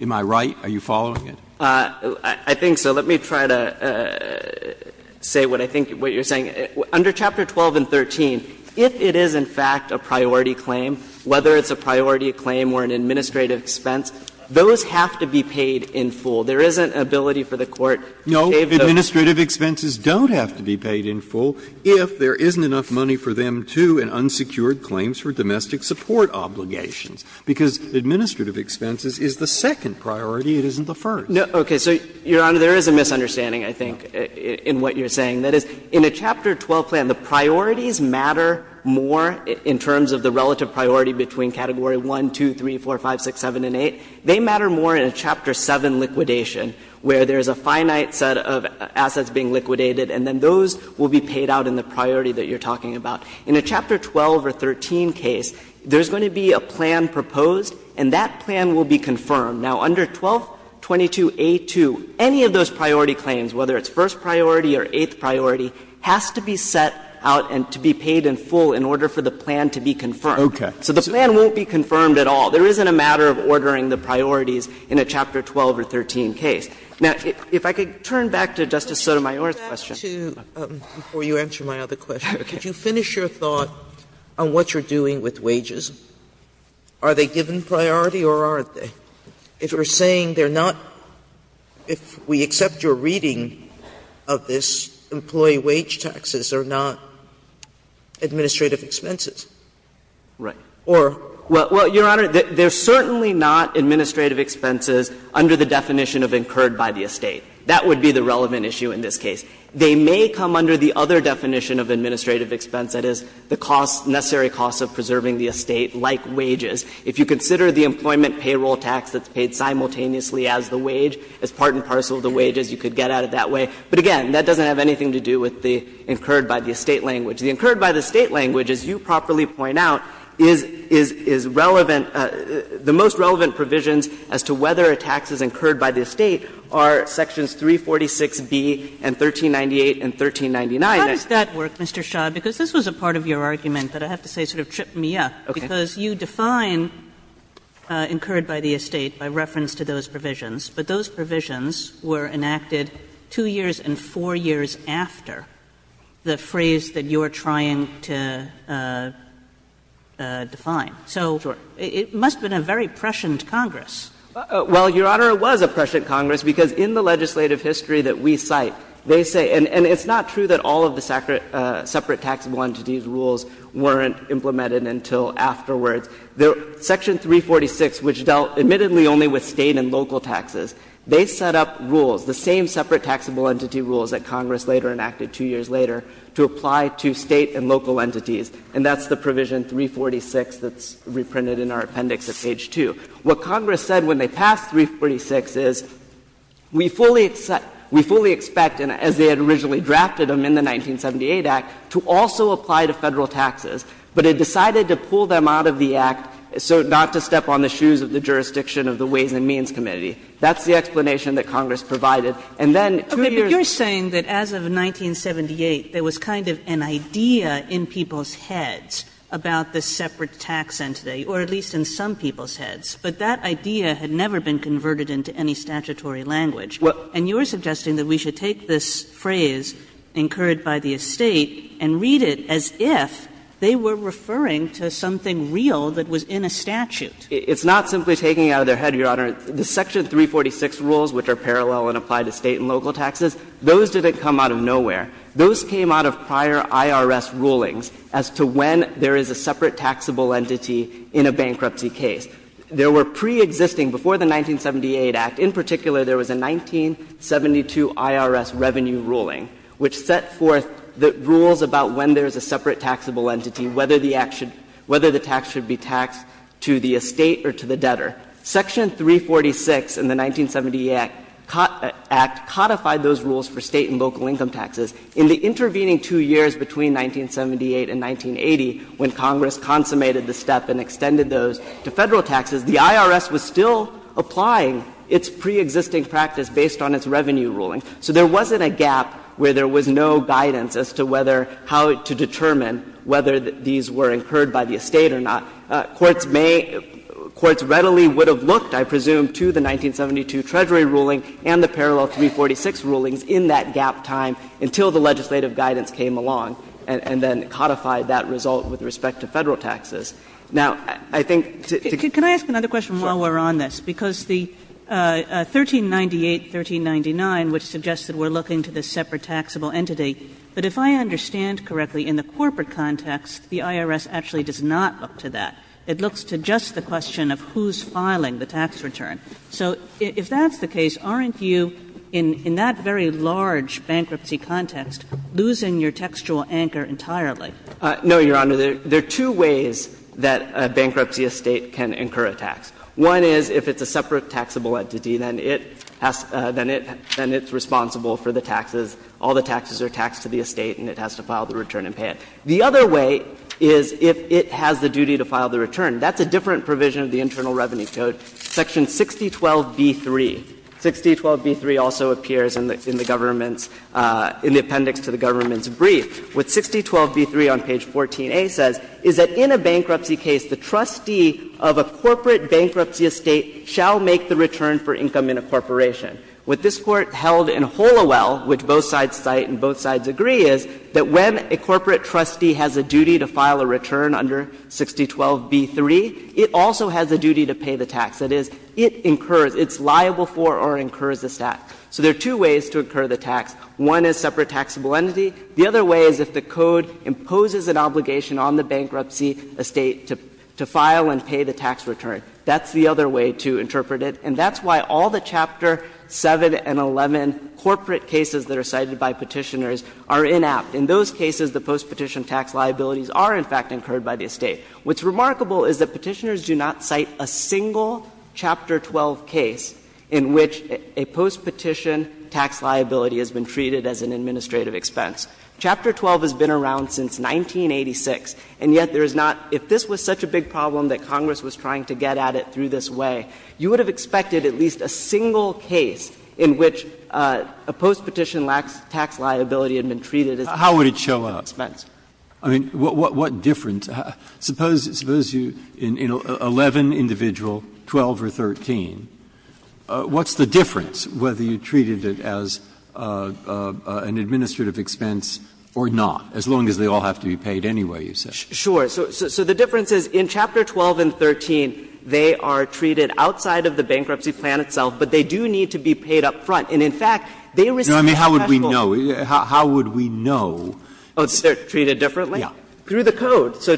Am I right? Are you following it? I think so. Let me try to say what I think – what you're saying. Under Chapter 12 and 13, if it is, in fact, a priority claim, whether it's a priority claim or an administrative expense, those have to be paid in full. There isn't an ability for the Court to shave those. No, administrative expenses don't have to be paid in full if there isn't enough money for them to and unsecured claims for domestic support obligations, because administrative expenses is the second priority, it isn't the first. No, okay. So, Your Honor, there is a misunderstanding, I think, in what you're saying. That is, in a Chapter 12 plan, the priorities matter more in terms of the relative priority between Category 1, 2, 3, 4, 5, 6, 7, and 8. They matter more in a Chapter 7 liquidation, where there is a finite set of assets being liquidated, and then those will be paid out in the priority that you're talking about. In a Chapter 12 or 13 case, there's going to be a plan proposed, and that plan will be confirmed. Now, under 1222a2, any of those priority claims, whether it's first priority or eighth priority, has to be set out and to be paid in full in order for the plan to be confirmed. So the plan won't be confirmed at all. There isn't a matter of ordering the priorities in a Chapter 12 or 13 case. Now, if I could turn back to Justice Sotomayor's question. Sotomayor, before you answer my other question, could you finish your thought on what you're doing with wages? Are they given priority or aren't they? If we're saying they're not, if we accept your reading of this, employee wage taxes are not administrative expenses. Shah... Shah... Well, Your Honor, they're certainly not administrative expenses under the definition of incurred by the estate. That would be the relevant issue in this case. They may come under the other definition of administrative expense, that is, the costs the necessary costs of preserving the estate, like wages. If you consider the employment payroll tax that's paid simultaneously as the wage, as part and parcel of the wage, you could get at it that way. But again, that doesn't have anything to do with the incurred by the estate language. The incurred by the estate language, as you properly point out, is relevant the most relevant provisions as to whether a tax is incurred by the estate are Sections 346B and 1398 and 1399. How does that work, Mr. Shah, because this was a part of your argument that I have to say sort of tripped me up, because you define incurred by the estate by reference to those provisions, but those provisions were enacted 2 years and 4 years after the phrase that you're trying to define. So it must have been a very prescient Congress. Shah... Well, Your Honor, it was a prescient Congress, because in the legislative history that we cite, they say and it's not true that all of the separate taxable entities rules weren't implemented until afterwards. Section 346, which dealt admittedly only with State and local taxes, they set up rules, the same separate taxable entity rules that Congress later enacted 2 years later to apply to State and local entities, and that's the provision 346 that's reprinted in our appendix at page 2. What Congress said when they passed 346 is, we fully expect, and as they had originally drafted them in the 1978 Act, to also apply to Federal taxes, but it decided to pull them out of the Act so not to step on the shoes of the jurisdiction of the Ways and Means Committee. That's the explanation that Congress provided, and then 2 years later. Kagan. Kagan. But you're saying that as of 1978, there was kind of an idea in people's heads about the separate tax entity, or at least in some people's heads, but that idea had never been converted into any statutory language. And you're suggesting that we should take this phrase, incurred by the Estate, and read it as if they were referring to something real that was in a statute. It's not simply taking it out of their head, Your Honor. The Section 346 rules, which are parallel and apply to State and local taxes, those didn't come out of nowhere. Those came out of prior IRS rulings as to when there is a separate taxable entity in a bankruptcy case. There were pre-existing, before the 1978 Act in particular, there was a 1972 IRS revenue ruling which set forth the rules about when there is a separate taxable entity, whether the Act should be taxed to the Estate or to the debtor. Section 346 in the 1978 Act codified those rules for State and local income taxes. In the intervening 2 years between 1978 and 1980, when Congress consummated the step and extended those to Federal taxes, the IRS was still applying its pre-existing practice based on its revenue ruling. So there wasn't a gap where there was no guidance as to whether, how to determine whether these were incurred by the Estate or not. Courts may — courts readily would have looked, I presume, to the 1972 Treasury ruling and the parallel 346 rulings in that gap time until the legislative guidance came along and then codified that result with respect to Federal taxes. Now, I think to get to the other question while we're on this, because the 1398, 1399, which suggests that we're looking to the separate taxable entity, but if I understand correctly, in the corporate context, the IRS actually does not look to that. It looks to just the question of who's filing the tax return. So if that's the case, aren't you, in that very large bankruptcy context, losing your textual anchor entirely? No, Your Honor. There are two ways that a bankruptcy Estate can incur a tax. One is if it's a separate taxable entity, then it has — then it's responsible for the taxes. All the taxes are taxed to the Estate and it has to file the return and pay it. The other way is if it has the duty to file the return. That's a different provision of the Internal Revenue Code. Section 6012b3, 6012b3 also appears in the government's — in the appendix to the government's brief. What 6012b3 on page 14a says is that in a bankruptcy case, the trustee of a corporate bankruptcy Estate shall make the return for income in a corporation. What this Court held in Hollowell, which both sides cite and both sides agree, is that when a corporate trustee has a duty to file a return under 6012b3, it also has a duty to pay the tax. That is, it incurs, it's liable for or incurs the tax. So there are two ways to incur the tax. One is separate taxable entity. The other way is if the Code imposes an obligation on the bankruptcy Estate to file and pay the tax return. That's the other way to interpret it. And that's why all the Chapter 7 and 11 corporate cases that are cited by Petitioners are inapt. In those cases, the postpetition tax liabilities are, in fact, incurred by the Estate. What's remarkable is that Petitioners do not cite a single Chapter 12 case in which a postpetition tax liability has been treated as an administrative expense. Chapter 12 has been around since 1986, and yet there is not — if this was such a big problem that Congress was trying to get at it through this way, you would have expected at least a single case in which a postpetition tax liability had been treated as an administrative expense. Breyer. How would it show up? I mean, what difference? Suppose you — in 11 individual, 12 or 13, what's the difference whether you treated it as an administrative expense or not, as long as they all have to be paid anyway, you said? Sure. So the difference is in Chapter 12 and 13, they are treated outside of the bankruptcy plan itself, but they do need to be paid up front. And in fact, they receive a taxable— No, I mean, how would we know? How would we know? Oh, they're treated differently? Yeah. Through the Code. So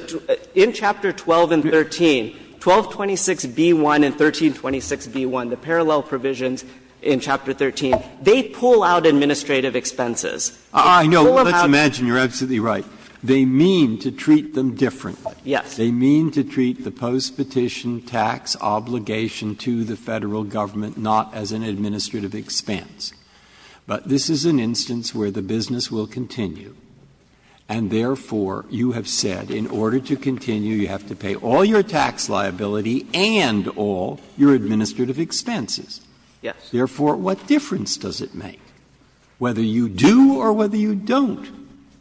in Chapter 12 and 13, 1226b1 and 1326b1, the parallel provisions in Chapter 13, they pull out administrative expenses. They pull them out— Let's imagine you're absolutely right. They mean to treat them differently. Yes. They mean to treat the postpetition tax obligation to the Federal Government not as an administrative expense. But this is an instance where the business will continue, and therefore, you have said in order to continue, you have to pay all your tax liability and all your administrative expenses. Yes. Therefore, what difference does it make whether you do or whether you don't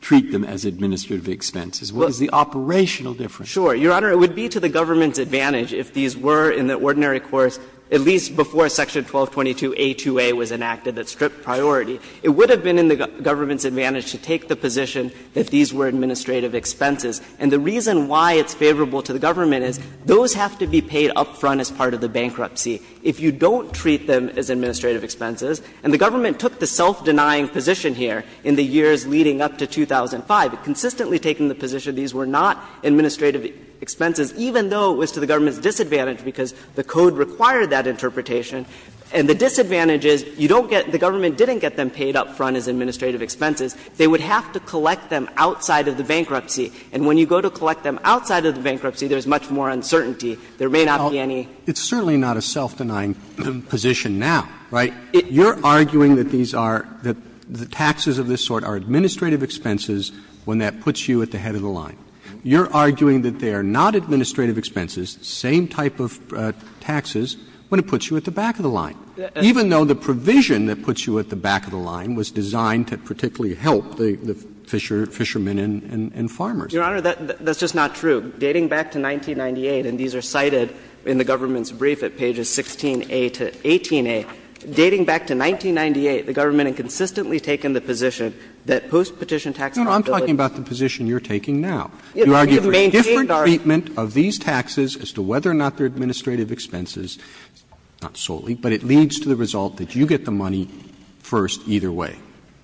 treat them as administrative expenses? What is the operational difference? Sure. Your Honor, it would be to the government's advantage if these were in the ordinary course, at least before Section 1222a2a was enacted that stripped priority. It would have been in the government's advantage to take the position that these were administrative expenses. And the reason why it's favorable to the government is those have to be paid up front as part of the bankruptcy. If you don't treat them as administrative expenses, and the government took the self-denying position here in the years leading up to 2005, consistently taking the position these were not administrative expenses, even though it was to the government's disadvantage because the code required that interpretation, and the disadvantage is you don't get — the government didn't get them paid up front as administrative them up front as administrative expenses. You can collect them outside of the bankruptcy. And when you go to collect them outside of the bankruptcy, there's much more uncertainty. There may not be any. Roberts. It's certainly not a self-denying position now, right? You're arguing that these are — that the taxes of this sort are administrative expenses when that puts you at the head of the line. Your Honor, that's just not true. Dating back to 1998, and these are cited in the government's brief at pages 16a to 18a, dating back to 1998, the government had consistently taken the position that post-petition tax liability — No, no, I'm talking about the position you're taking now. You're arguing a different treatment of these taxes as to whether or not they're administrative expenses, not solely, but it leads to the result that you get the money first either way.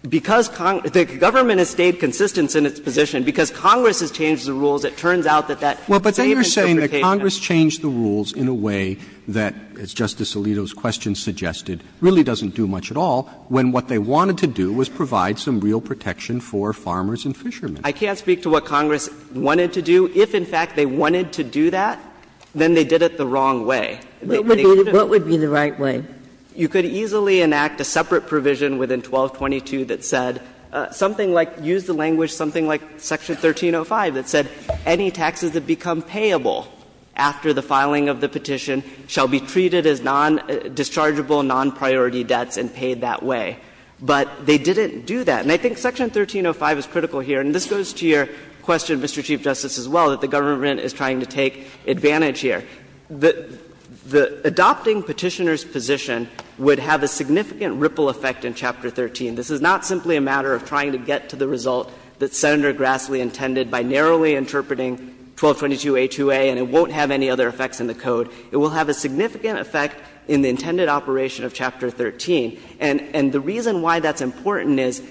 Because Congress — the government has stayed consistent in its position. Because Congress has changed the rules, it turns out that that same interpretation of the rules — Well, but then you're saying that Congress changed the rules in a way that, as Justice Alito's question suggested, really doesn't do much at all, when what they wanted to do was provide some real protection for farmers and fishermen. I can't speak to what Congress wanted to do. If, in fact, they wanted to do that, then they did it the wrong way. What would be the right way? And you could easily enact a separate provision within 1222 that said something like — use the language something like Section 1305 that said any taxes that become payable after the filing of the petition shall be treated as non-dischargeable, non-priority debts and paid that way. But they didn't do that. And I think Section 1305 is critical here, and this goes to your question, Mr. Chief Justice, as well, that the government is trying to take advantage here. The adopting Petitioner's position would have a significant ripple effect in Chapter 13. This is not simply a matter of trying to get to the result that Senator Grassley intended by narrowly interpreting 1222a2a, and it won't have any other effects in the code. It will have a significant effect in the intended operation of Chapter 13. And the reason why that's important is,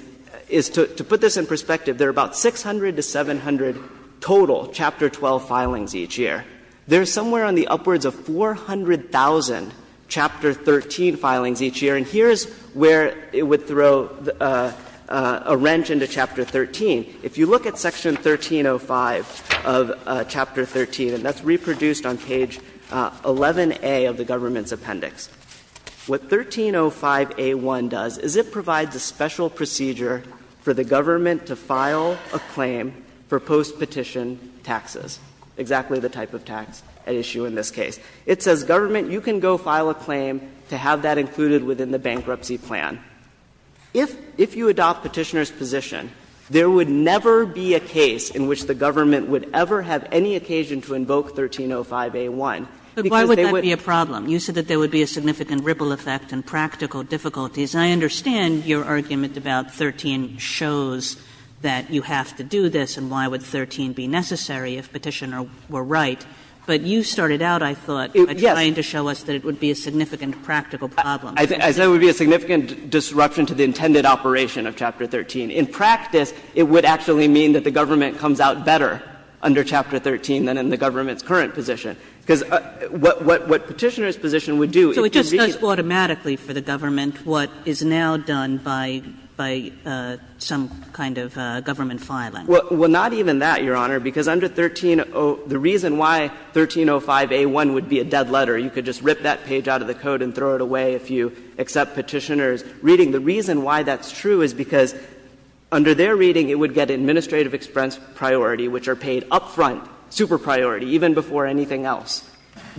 to put this in perspective, there are about 600 to 700 total Chapter 12 filings each year. There are somewhere on the upwards of 400,000 Chapter 13 filings each year. And here's where it would throw a wrench into Chapter 13. If you look at Section 1305 of Chapter 13, and that's reproduced on page 11a of the government's appendix, what 1305a1 does is it provides a special procedure for the government to file a claim for postpetition taxes, exactly the type of thing that would be a postpetition tax issue in this case. It says, Government, you can go file a claim to have that included within the bankruptcy plan. If you adopt Petitioner's position, there would never be a case in which the government would ever have any occasion to invoke 1305a1, because they would be a problem. Kagan. Kagan. You said that there would be a significant ripple effect and practical difficulties. I understand your argument about 13 shows that you have to do this, and why would Chapter 13 be necessary if Petitioner were right, but you started out, I thought, by trying to show us that it would be a significant practical problem. I said it would be a significant disruption to the intended operation of Chapter 13. In practice, it would actually mean that the government comes out better under Chapter 13 than in the government's current position, because what Petitioner's position would do is it would be a problem. So it just does automatically for the government what is now done by some kind of government filing. Well, not even that, Your Honor, because under 1305a1 would be a dead letter. You could just rip that page out of the code and throw it away if you accept Petitioner's reading. The reason why that's true is because under their reading, it would get administrative expense priority, which are paid up front, super priority, even before anything else.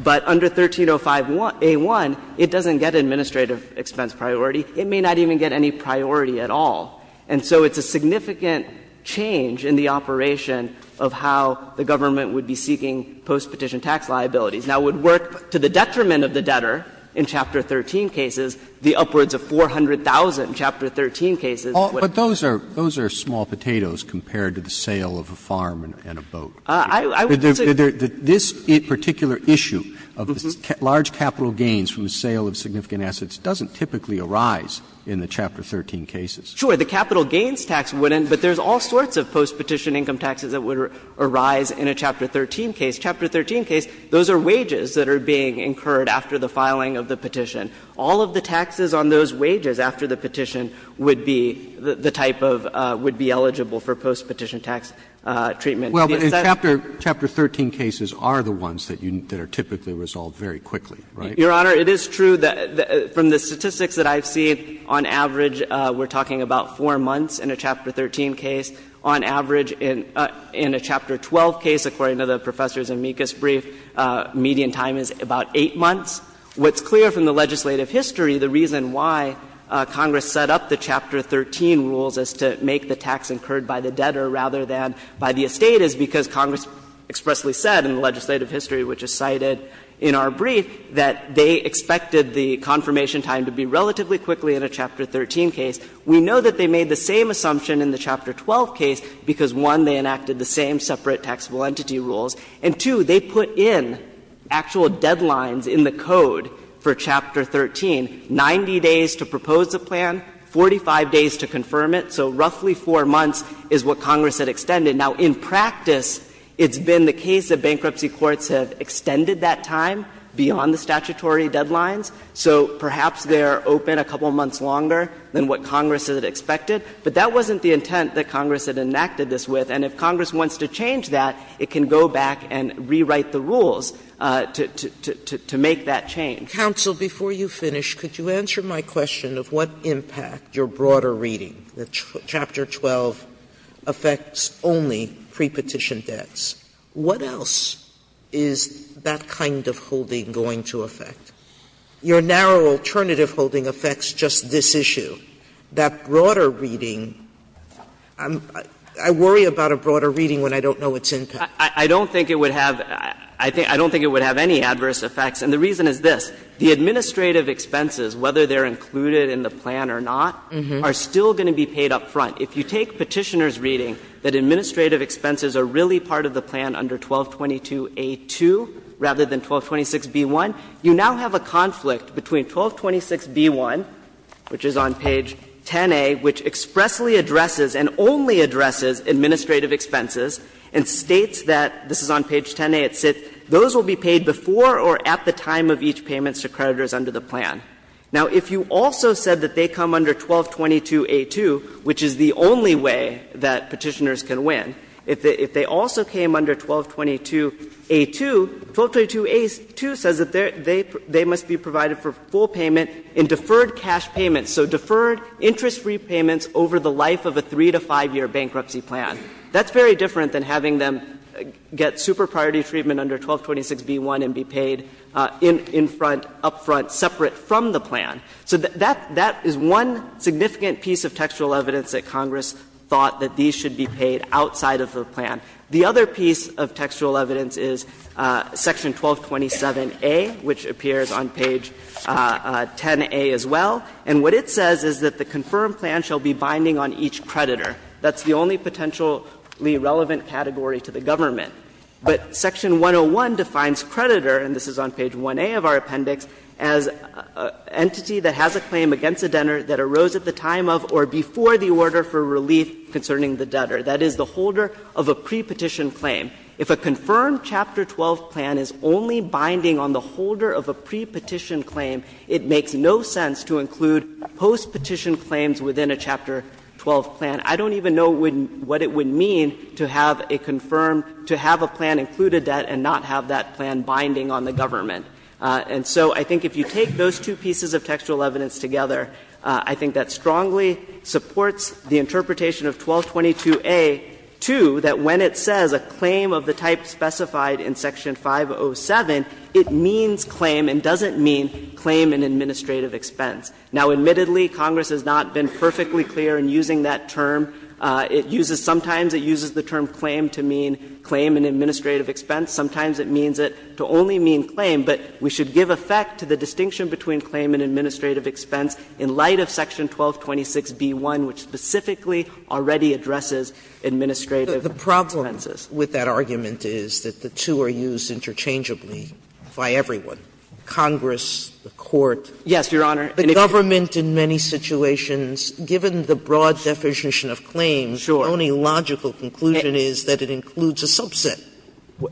But under 1305a1, it doesn't get administrative expense priority. It may not even get any priority at all. And so it's a significant change in the operation of how the government would be seeking postpetition tax liabilities. Now, it would work to the detriment of the debtor in Chapter 13 cases, the upwards of 400,000 in Chapter 13 cases. Roberts. Roberts. But those are small potatoes compared to the sale of a farm and a boat. I would say that this particular issue of large capital gains from the sale of significant assets doesn't typically arise in the Chapter 13 cases. Sure. The capital gains tax wouldn't, but there's all sorts of postpetition income taxes that would arise in a Chapter 13 case. Chapter 13 case, those are wages that are being incurred after the filing of the petition. All of the taxes on those wages after the petition would be the type of – would be eligible for postpetition tax treatment. Well, but in Chapter – Chapter 13 cases are the ones that you – that are typically resolved very quickly, right? Your Honor, it is true that from the statistics that I've seen, on average, we're talking about four months in a Chapter 13 case. On average, in a Chapter 12 case, according to the professors' amicus brief, median time is about eight months. What's clear from the legislative history, the reason why Congress set up the Chapter 13 rules as to make the tax incurred by the debtor rather than by the estate is because Congress expressly said in the legislative history, which is cited in our brief, that they expected the confirmation time to be relatively quickly in a Chapter 13 case. We know that they made the same assumption in the Chapter 12 case because, one, they enacted the same separate taxable entity rules, and, two, they put in actual deadlines in the code for Chapter 13, 90 days to propose a plan, 45 days to confirm it. So roughly four months is what Congress had extended. Now, in practice, it's been the case that bankruptcy courts have extended that time beyond the statutory deadlines. So perhaps they are open a couple of months longer than what Congress had expected. But that wasn't the intent that Congress had enacted this with. And if Congress wants to change that, it can go back and rewrite the rules to make that change. Sotomayor, before you finish, could you answer my question of what impact your broader reading, that Chapter 12 affects only prepetition debts, what else is that kind of holding going to affect? Your narrow alternative holding affects just this issue. That broader reading, I worry about a broader reading when I don't know its impact. Shah Rukin, Jr.: I don't think it would have any adverse effects, and the reason is this. The administrative expenses, whether they are included in the plan or not, are still going to be paid up front. If you take Petitioner's reading that administrative expenses are really part of the 1222A2 rather than 1226B1, you now have a conflict between 1226B1, which is on page 10a, which expressly addresses and only addresses administrative expenses, and states that, this is on page 10a, it says those will be paid before or at the time of each payment to creditors under the plan. Now, if you also said that they come under 1222A2, which is the only way that Petitioners can win, if they also came under 1222A2, 1222A2 says that they must be provided for full payment in deferred cash payments, so deferred interest-free payments over the life of a 3- to 5-year bankruptcy plan. That's very different than having them get super priority treatment under 1226B1 and be paid in front, up front, separate from the plan. So that is one significant piece of textual evidence that Congress thought that these should be paid outside of the plan. The other piece of textual evidence is section 1227A, which appears on page 10a as well, and what it says is that the confirmed plan shall be binding on each creditor. That's the only potentially relevant category to the government. But section 101 defines creditor, and this is on page 1a of our appendix, as an entity that has a claim against a debtor that arose at the time of or before the order for relief concerning the debtor, that is, the holder of a prepetition claim. If a confirmed Chapter 12 plan is only binding on the holder of a prepetition claim, it makes no sense to include postpetition claims within a Chapter 12 plan. I don't even know what it would mean to have a confirmed, to have a plan include a debt and not have that plan binding on the government. And so I think if you take those two pieces of textual evidence together, I think that strongly supports the interpretation of 1222A, too, that when it says a claim of the type specified in section 507, it means claim and doesn't mean claim and administrative expense. Now, admittedly, Congress has not been perfectly clear in using that term. It uses the term claim to mean claim and administrative expense. Sometimes it means it to only mean claim, but we should give effect to the distinction between claim and administrative expense in light of section 1226b-1, which specifically already addresses administrative expenses. Sotomayor, but the problem with that argument is that the two are used interchangeably by everyone, Congress, the Court. Yes, Your Honor. And if the government in many situations, given the broad deficition of claims, the only logical conclusion is that it includes a subset,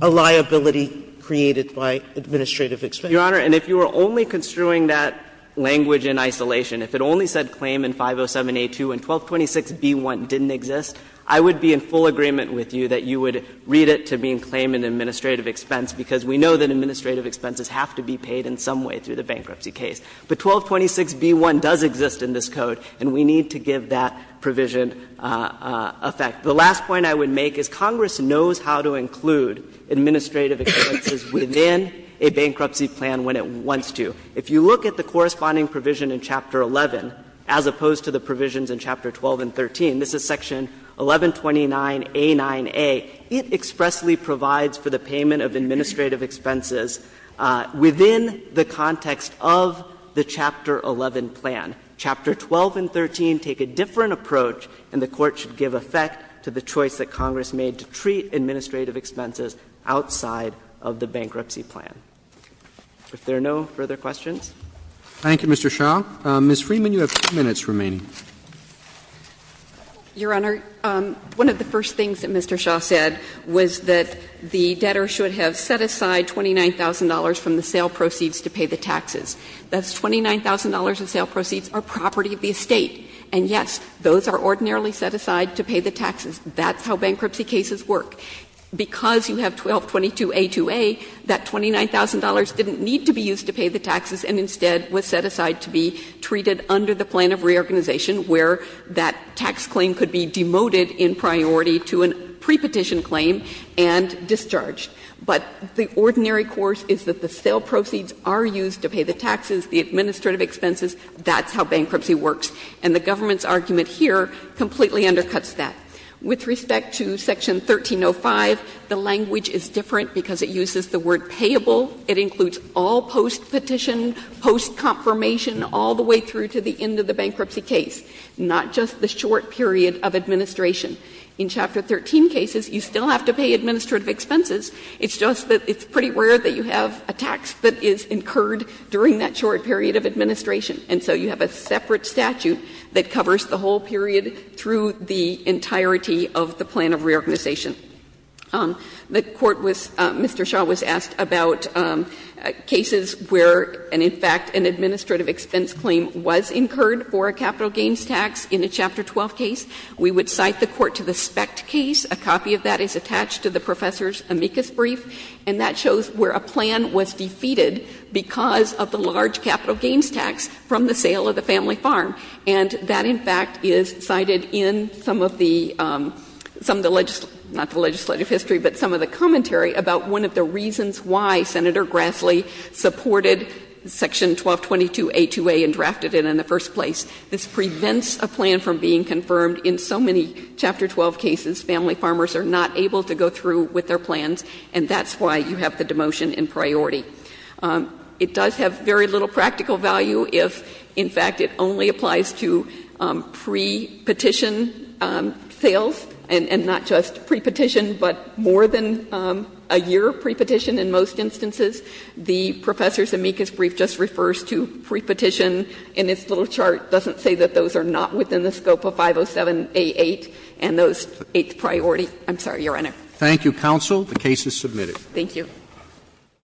a liability created by administrative expense. Your Honor, and if you were only construing that language in isolation, if it only said claim in 507a-2 and 1226b-1 didn't exist, I would be in full agreement with you that you would read it to mean claim and administrative expense, because we know that administrative expenses have to be paid in some way through the bankruptcy case. But 1226b-1 does exist in this code, and we need to give that provision effect. The last point I would make is Congress knows how to include administrative expenses within a bankruptcy plan when it wants to. If you look at the corresponding provision in Chapter 11, as opposed to the provisions in Chapter 12 and 13, this is section 1129a9a, it expressly provides for the payment of administrative expenses within the context of the Chapter 11 plan. Chapter 12 and 13 take a different approach, and the Court should give effect to the bankruptcy plan. If there are no further questions. Roberts. Thank you, Mr. Shah. Ms. Freeman, you have two minutes remaining. Your Honor, one of the first things that Mr. Shah said was that the debtor should have set aside $29,000 from the sale proceeds to pay the taxes. That's $29,000 in sale proceeds or property of the estate. And, yes, those are ordinarily set aside to pay the taxes. That's how bankruptcy cases work. Because you have 1222a2a, that $29,000 didn't need to be used to pay the taxes and instead was set aside to be treated under the plan of reorganization, where that tax claim could be demoted in priority to a prepetition claim and discharged. But the ordinary course is that the sale proceeds are used to pay the taxes, the administrative expenses, that's how bankruptcy works. And the government's argument here completely undercuts that. With respect to section 1305, the language is different because it uses the word payable. It includes all post-petition, post-confirmation, all the way through to the end of the bankruptcy case. Not just the short period of administration. In Chapter 13 cases, you still have to pay administrative expenses. It's just that it's pretty rare that you have a tax that is incurred during that short period of administration. And so you have a separate statute that covers the whole period through the entirety of the plan of reorganization. The Court was Mr. Shaw was asked about cases where, and in fact, an administrative expense claim was incurred for a capital gains tax in a Chapter 12 case. We would cite the court to the SPECT case. A copy of that is attached to the Professor's amicus brief. And that shows where a plan was defeated because of the large capital gains tax from the sale of the family farm. And that in fact is cited in some of the, not the legislative history, but some of the commentary about one of the reasons why Senator Grassley supported Section 1222A2A and drafted it in the first place. This prevents a plan from being confirmed in so many Chapter 12 cases. Family farmers are not able to go through with their plans. And that's why you have the demotion in priority. It does have very little practical value if in fact it only applies to pre-petition sales and not just pre-petition, but more than a year pre-petition in most instances. The Professor's amicus brief just refers to pre-petition in its little chart. It doesn't say that those are not within the scope of 507A8 and those eighth priority. I'm sorry, Your Honor. Roberts. Thank you, counsel. The case is submitted. Thank you.